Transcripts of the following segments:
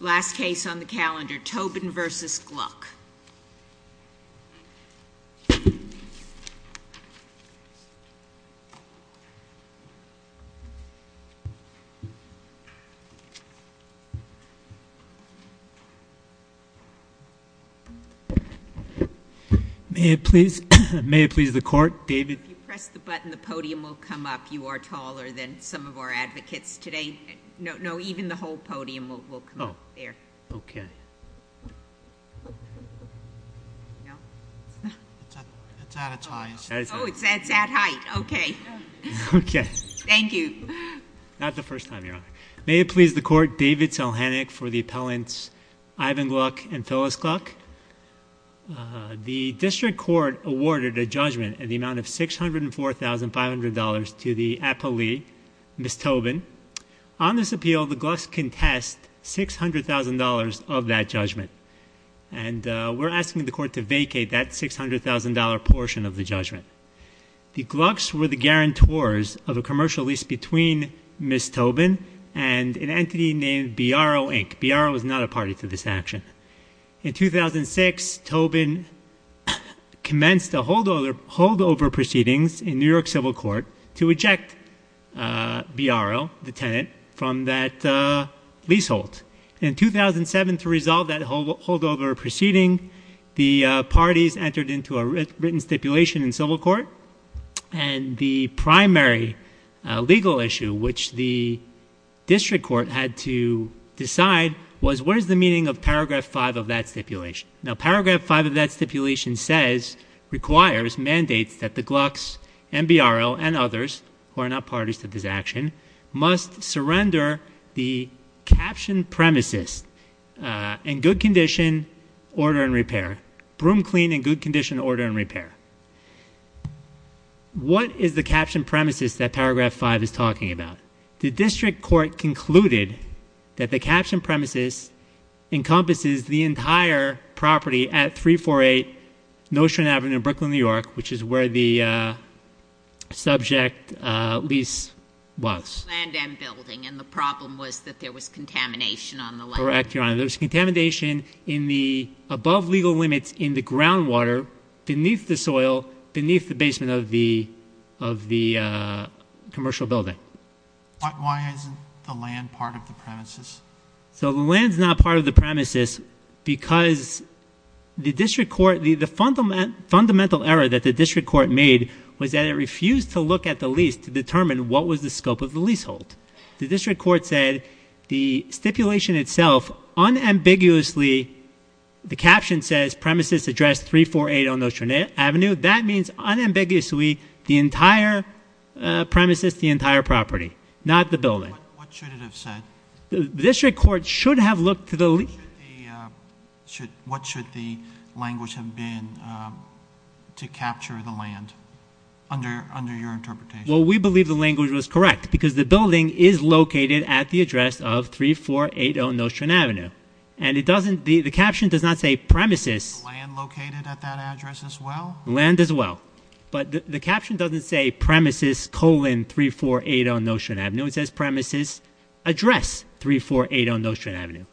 Last case on the calendar, Tobin v. Gluck. May it please the court. David. If you press the button, the podium will come up. You are taller than some of our advocates today. No, no, even the whole podium will come up there. Okay. It's at its highest. Oh, it's at height. Okay. Okay. Thank you. Not the first time, Your Honor. May it please the court. David. For the appellants Ivan Gluck and Phyllis Gluck. The district court awarded a judgment in the amount of $604,500 to the appellee, Ms. Tobin. On this appeal, the Glucks contest $600,000 of that judgment. And we're asking the court to vacate that $600,000 portion of the judgment. The Glucks were the guarantors of a commercial lease between Ms. Tobin and an entity named Biarro, Inc. Biarro is not a party to this action. In 2006, Tobin commenced a holdover proceedings in New York civil court to eject Biarro, the tenant, from that leasehold. In 2007, to resolve that holdover proceeding, the parties entered into a written stipulation in civil court. And the primary legal issue which the district court had to decide was, what is the meaning of paragraph 5 of that stipulation? Now, paragraph 5 of that stipulation says, requires, mandates that the Glucks and Biarro and others, who are not parties to this action, must surrender the caption premises in good condition, order and repair. Broom clean in good condition, order and repair. What is the caption premises that paragraph 5 is talking about? The district court concluded that the caption premises encompasses the entire property at 348 Notion Avenue in Brooklyn, New York, which is where the subject lease was. Land and building, and the problem was that there was contamination on the land. Correct, Your Honor. There was contamination in the, above legal limits, in the groundwater, beneath the soil, beneath the basement of the commercial building. Why isn't the land part of the premises? So the land's not part of the premises because the district court, the fundamental error that the district court made was that it refused to look at the lease to determine what was the scope of the leasehold. The district court said the stipulation itself unambiguously, the caption says premises address 348 Notion Avenue. That means unambiguously the entire premises, the entire property, not the building. What should it have said? The district court should have looked to the lease. What should the language have been to capture the land under your interpretation? Well, we believe the language was correct because the building is located at the address of 3480 Notion Avenue, and it doesn't, the caption does not say premises. Land located at that address as well? Land as well, but the caption doesn't say premises colon 3480 Notion Avenue. It says premises address 3480 Notion Avenue,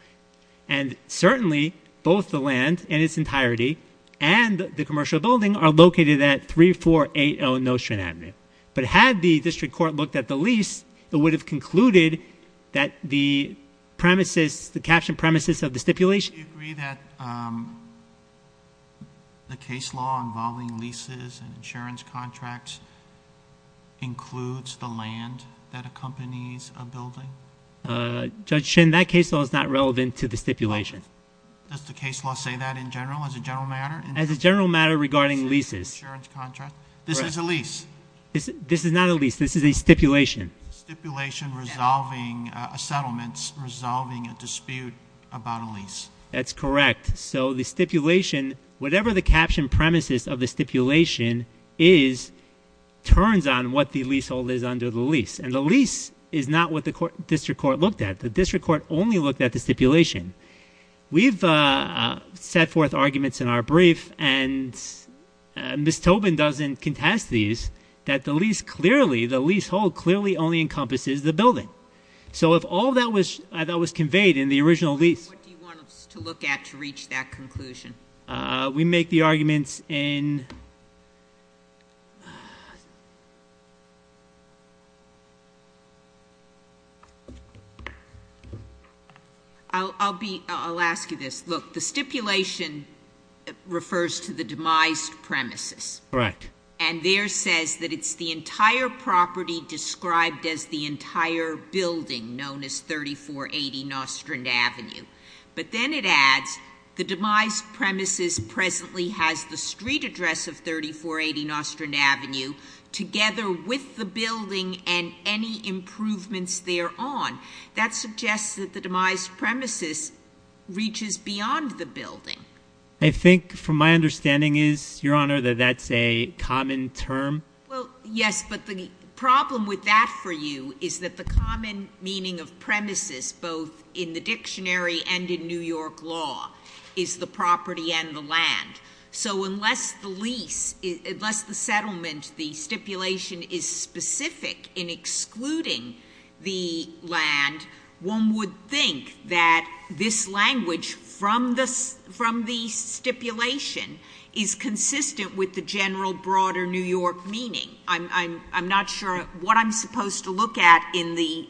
and certainly both the land in its entirety and the commercial building are located at 3480 Notion Avenue. But had the district court looked at the lease, it would have concluded that the premises, the caption premises of the stipulation. Do you agree that the case law involving leases and insurance contracts includes the land that accompanies a building? Judge Shin, that case law is not relevant to the stipulation. Does the case law say that in general, as a general matter? As a general matter regarding leases. This is a lease. This is not a lease. This is a stipulation. Stipulation resolving a settlement, resolving a dispute about a lease. That's correct. So the stipulation, whatever the caption premises of the stipulation is, turns on what the leasehold is under the lease. And the lease is not what the district court looked at. The district court only looked at the stipulation. We've set forth arguments in our brief, and Ms. Tobin doesn't contest these, that the leasehold clearly only encompasses the building. So if all that was conveyed in the original lease- What do you want us to look at to reach that conclusion? We make the arguments in- I'll be, I'll ask you this. Look, the stipulation refers to the demised premises. Correct. And there says that it's the entire property described as the entire building known as 3480 Nostrand Avenue. But then it adds the demised premises presently has the street address of 3480 Nostrand Avenue together with the building and any improvements thereon. That suggests that the demised premises reaches beyond the building. I think from my understanding is, Your Honor, that that's a common term. Well, yes, but the problem with that for you is that the common meaning of premises, both in the dictionary and in New York law, is the property and the land. So unless the lease, unless the settlement, the stipulation is specific in excluding the land, one would think that this language from the stipulation is consistent with the general broader New York meaning. I'm not sure what I'm supposed to look at in the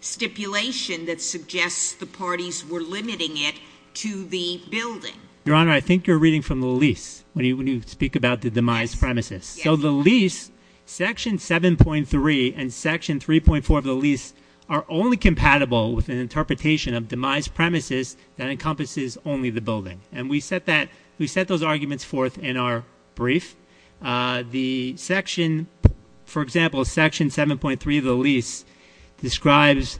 stipulation that suggests the parties were limiting it to the building. Your Honor, I think you're reading from the lease when you speak about the demised premises. So the lease, section 7.3 and section 3.4 of the lease are only compatible with an interpretation of demised premises that encompasses only the building. And we set those arguments forth in our brief. The section, for example, section 7.3 of the lease describes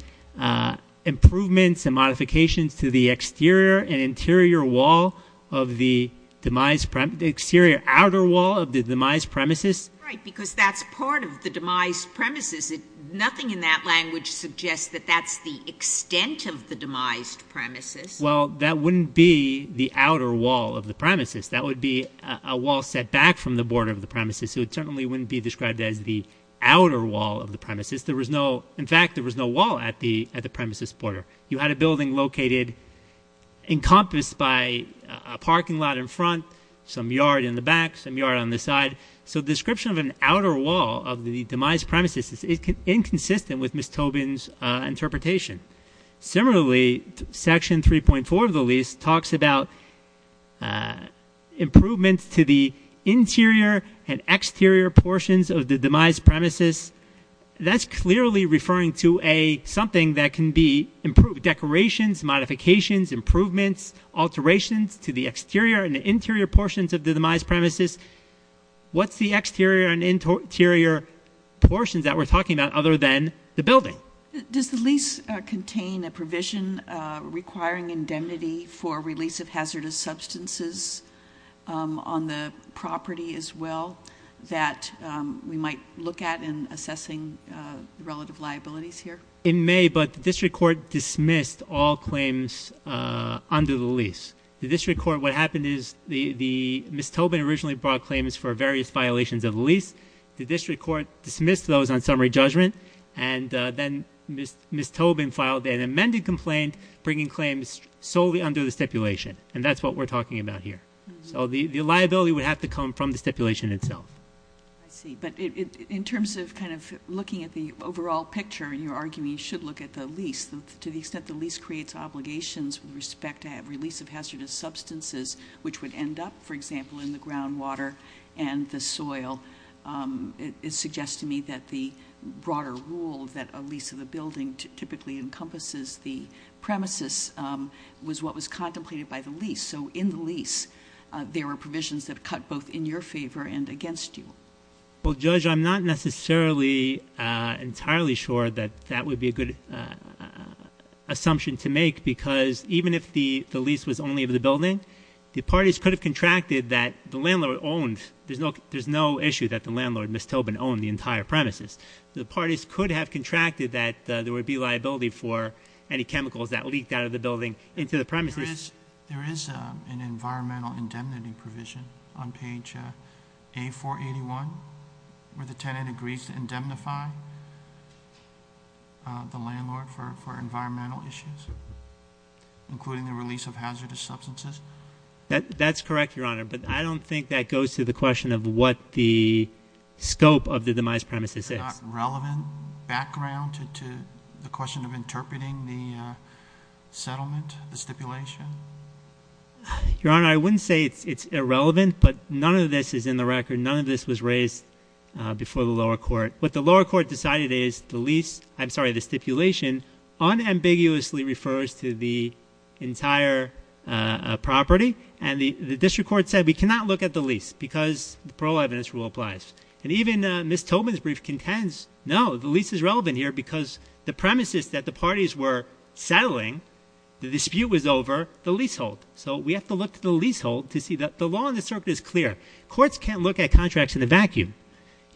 improvements and modifications to the exterior and interior wall of the demised, exterior outer wall of the demised premises. Right, because that's part of the demised premises. Nothing in that language suggests that that's the extent of the demised premises. Well, that wouldn't be the outer wall of the premises. That would be a wall set back from the border of the premises. So it certainly wouldn't be described as the outer wall of the premises. In fact, there was no wall at the premises border. You had a building located encompassed by a parking lot in front, some yard in the back, some yard on the side. So the description of an outer wall of the demised premises is inconsistent with Ms. Tobin's interpretation. Similarly, section 3.4 of the lease talks about improvements to the interior and exterior portions of the demised premises. That's clearly referring to something that can be improved, decorations, modifications, improvements, alterations to the exterior and interior portions of the demised premises. What's the exterior and interior portions that we're talking about other than the building? Does the lease contain a provision requiring indemnity for release of hazardous substances on the property as well that we might look at in assessing relative liabilities here? It may, but the district court dismissed all claims under the lease. The district court, what happened is Ms. Tobin originally brought claims for various violations of the lease. The district court dismissed those on summary judgment. And then Ms. Tobin filed an amended complaint bringing claims solely under the stipulation, and that's what we're talking about here. So the liability would have to come from the stipulation itself. I see, but in terms of kind of looking at the overall picture, you're arguing you should look at the lease. To the extent the lease creates obligations with respect to release of hazardous substances, which would end up, for example, in the groundwater and the soil. It suggests to me that the broader rule that a lease of the building typically encompasses the premises was what was contemplated by the lease. So in the lease, there were provisions that cut both in your favor and against you. Well, Judge, I'm not necessarily entirely sure that that would be a good assumption to make, because even if the lease was only of the building, the parties could have contracted that the landlord owned. There's no issue that the landlord, Ms. Tobin, owned the entire premises. The parties could have contracted that there would be liability for any chemicals that leaked out of the building into the premises. There is an environmental indemnity provision on page A481, where the tenant agrees to indemnify the landlord for environmental issues. Including the release of hazardous substances? That's correct, Your Honor, but I don't think that goes to the question of what the scope of the demised premises is. Is there not relevant background to the question of interpreting the settlement, the stipulation? Your Honor, I wouldn't say it's irrelevant, but none of this is in the record. None of this was raised before the lower court. What the lower court decided is the stipulation unambiguously refers to the entire property, and the district court said we cannot look at the lease because the parole evidence rule applies. Even Ms. Tobin's brief contends, no, the lease is relevant here because the premises that the parties were settling, the dispute was over, the leasehold. So we have to look at the leasehold to see that the law in the circuit is clear. Courts can't look at contracts in a vacuum.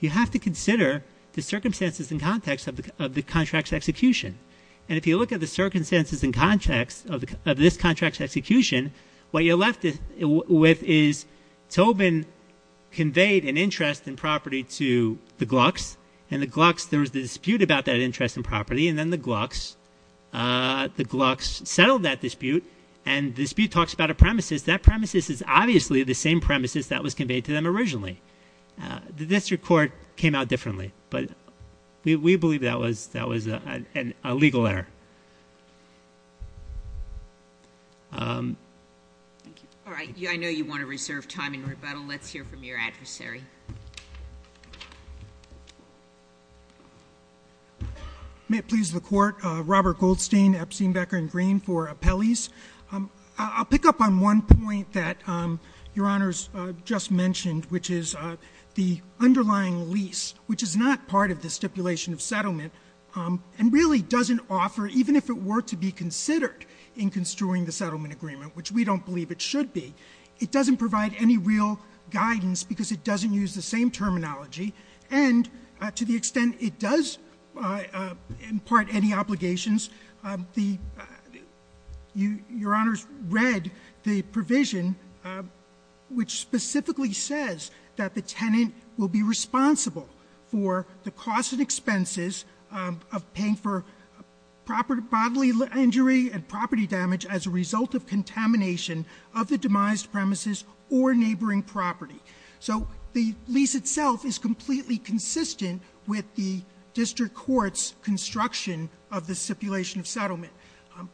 You have to consider the circumstances and context of the contract's execution, and if you look at the circumstances and context of this contract's execution, what you're left with is Tobin conveyed an interest in property to the Glucks, and the Glucks, there was a dispute about that interest in property, and then the Glucks settled that dispute, and the dispute talks about a premises. That premises is obviously the same premises that was conveyed to them originally. The district court came out differently, but we believe that was a legal error. Thank you. All right. I know you want to reserve time in rebuttal. Let's hear from your adversary. May it please the Court. Robert Goldstein, Epstein, Becker, and Green for Appellees. I'll pick up on one point that Your Honors just mentioned, which is the underlying lease, which is not part of the stipulation of settlement and really doesn't offer, even if it were to be considered in construing the settlement agreement, which we don't believe it should be, it doesn't provide any real guidance because it doesn't use the same terminology, and to the extent it does impart any obligations, Your Honors read the provision, which specifically says that the tenant will be responsible for the costs and expenses of paying for proper bodily injury and property damage as a result of contamination of the demised premises or neighboring property. So the lease itself is completely consistent with the district court's construction of the stipulation of settlement.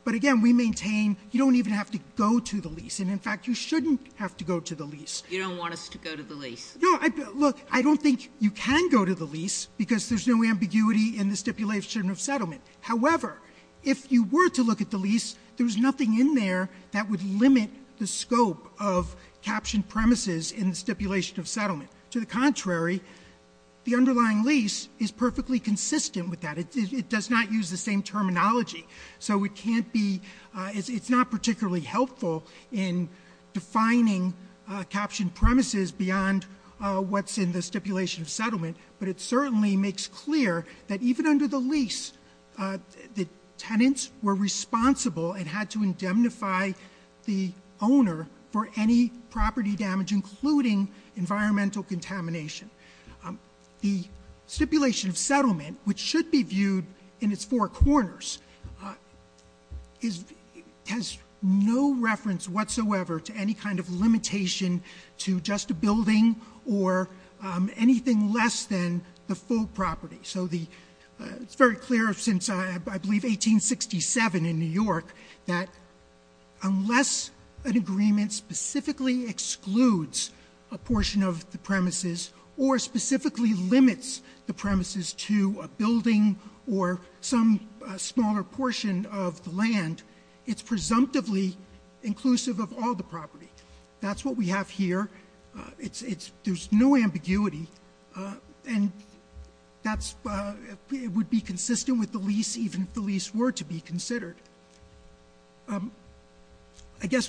But again, we maintain you don't even have to go to the lease, and in fact, you shouldn't have to go to the lease. You don't want us to go to the lease? No. Look, I don't think you can go to the lease because there's no ambiguity in the stipulation of settlement. However, if you were to look at the lease, there's nothing in there that would limit the scope of captioned premises in the stipulation of settlement. To the contrary, the underlying lease is perfectly consistent with that. It does not use the same terminology. So it can't be, it's not particularly helpful in defining captioned premises beyond what's in the stipulation of settlement, but it certainly makes clear that even under the lease, the tenants were responsible and had to indemnify the owner for any property damage, including environmental contamination. The stipulation of settlement, which should be viewed in its four corners, has no reference whatsoever to any kind of limitation to just a building or anything less than the full property. So it's very clear since, I believe, 1867 in New York, that unless an agreement specifically excludes a portion of the premises, or specifically limits the premises to a building or some smaller portion of the land, it's presumptively inclusive of all the property. That's what we have here. There's no ambiguity, and it would be consistent with the lease even if the lease were to be considered. I guess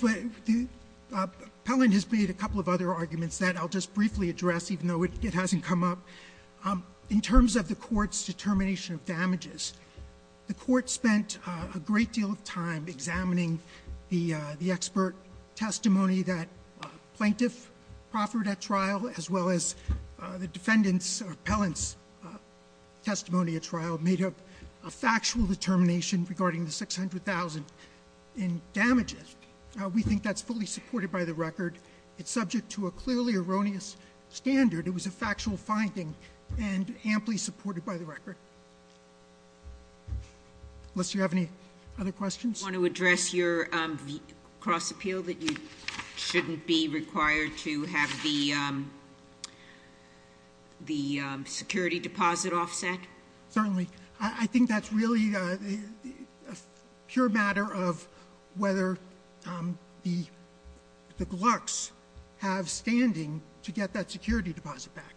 Pelland has made a couple of other arguments that I'll just briefly address, even though it hasn't come up. In terms of the court's determination of damages, the court spent a great deal of time examining the expert testimony that plaintiff proffered at trial, as well as the defendant's or Pelland's testimony at trial, made a factual determination regarding the $600,000 in damages. We think that's fully supported by the record. It's subject to a clearly erroneous standard. It was a factual finding and amply supported by the record. Unless you have any other questions? Do you want to address your cross appeal that you shouldn't be required to have the security deposit offset? Certainly. I think that's really a pure matter of whether the clerks have standing to get that security deposit back.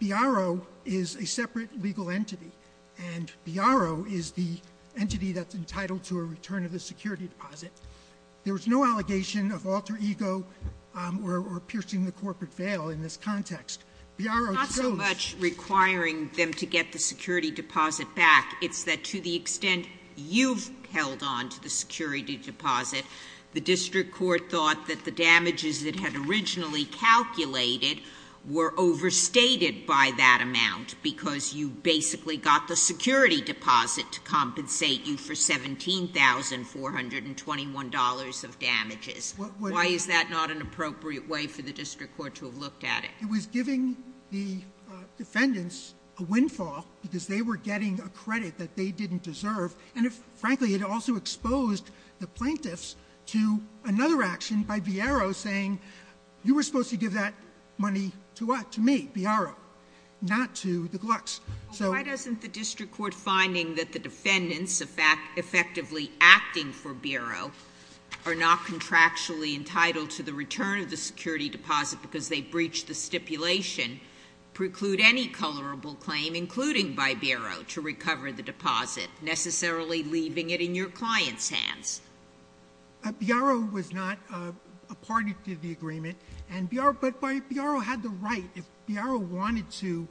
BRO is a separate legal entity. And BRO is the entity that's entitled to a return of the security deposit. There's no allegation of alter ego or piercing the corporate veil in this context. BRO- Not so much requiring them to get the security deposit back. It's that to the extent you've held on to the security deposit, the district court thought that the damages it had originally calculated were overstated by that amount because you basically got the security deposit to compensate you for $17,421 of damages. Why is that not an appropriate way for the district court to have looked at it? It was giving the defendants a windfall because they were getting a credit that they didn't deserve. And frankly, it also exposed the plaintiffs to another action by BRO saying, you were supposed to give that money to what? To me, BRO, not to the Glucks. Why doesn't the district court finding that the defendants effectively acting for BRO are not contractually entitled to the return of the security deposit because they breached the stipulation preclude any colorable claim, including by BRO, to recover the deposit, necessarily leaving it in your client's hands? BRO was not a party to the agreement, but BRO had the right. If BRO wanted to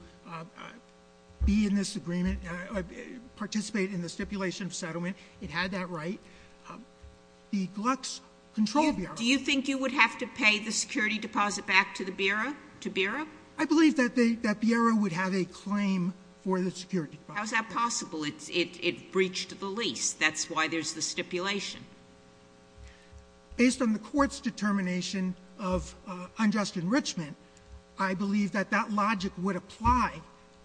be in this agreement, participate in the stipulation of settlement, it had that right. The Glucks controlled BRO. Do you think you would have to pay the security deposit back to BRO? I believe that BRO would have a claim for the security deposit. How is that possible? It breached the lease. That's why there's the stipulation. Based on the court's determination of unjust enrichment, I believe that that logic would apply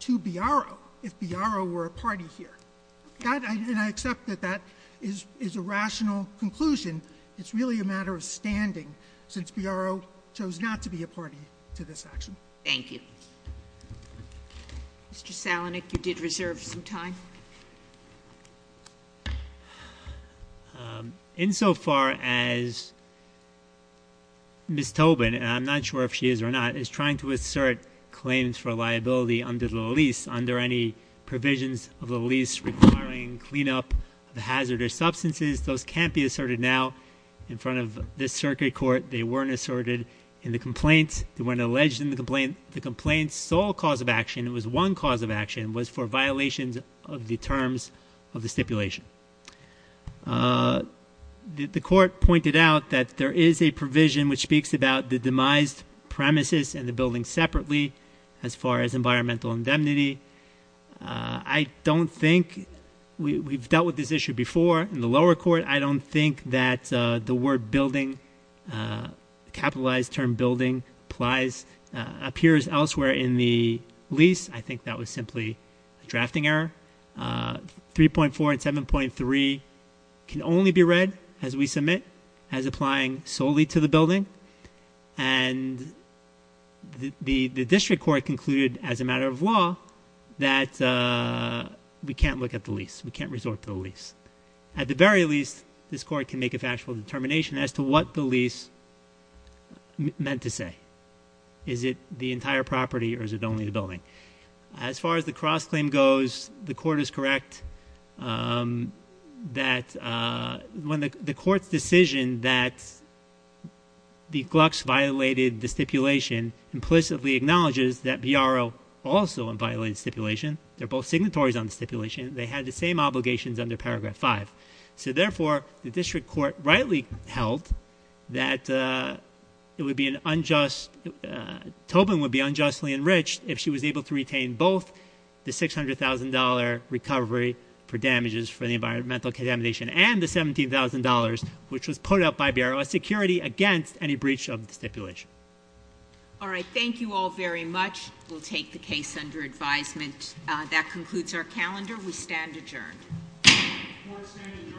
to BRO if BRO were a party here. And I accept that that is a rational conclusion. It's really a matter of standing since BRO chose not to be a party to this action. Thank you. Mr. Salinik, you did reserve some time. Insofar as Ms. Tobin, and I'm not sure if she is or not, is trying to assert claims for liability under the lease, under any provisions of the lease requiring cleanup of hazardous substances, those can't be asserted now in front of this circuit court. They weren't asserted in the complaint. They weren't alleged in the complaint. The complaint's sole cause of action, it was one cause of action, was for violations of the terms of the stipulation. The court pointed out that there is a provision which speaks about the demised premises and the building separately as far as environmental indemnity. I don't think we've dealt with this issue before in the lower court. I don't think that the word building, capitalized term building, appears elsewhere in the lease. I think that was simply a drafting error. 3.4 and 7.3 can only be read as we submit as applying solely to the building. And the district court concluded as a matter of law that we can't look at the lease. We can't resort to the lease. At the very least, this court can make a factual determination as to what the lease meant to say. Is it the entire property or is it only the building? As far as the cross-claim goes, the court is correct that when the court's decision that the Glucks violated the stipulation implicitly acknowledges that BRO also violated the stipulation. They're both signatories on the stipulation. They had the same obligations under Paragraph 5. So therefore, the district court rightly held that Tobin would be unjustly enriched if she was able to retain both the $600,000 recovery for damages for the environmental contamination and the $17,000 which was put up by BRO as security against any breach of the stipulation. All right, thank you all very much. We'll take the case under advisement. That concludes our calendar. We stand adjourned. Court is adjourned.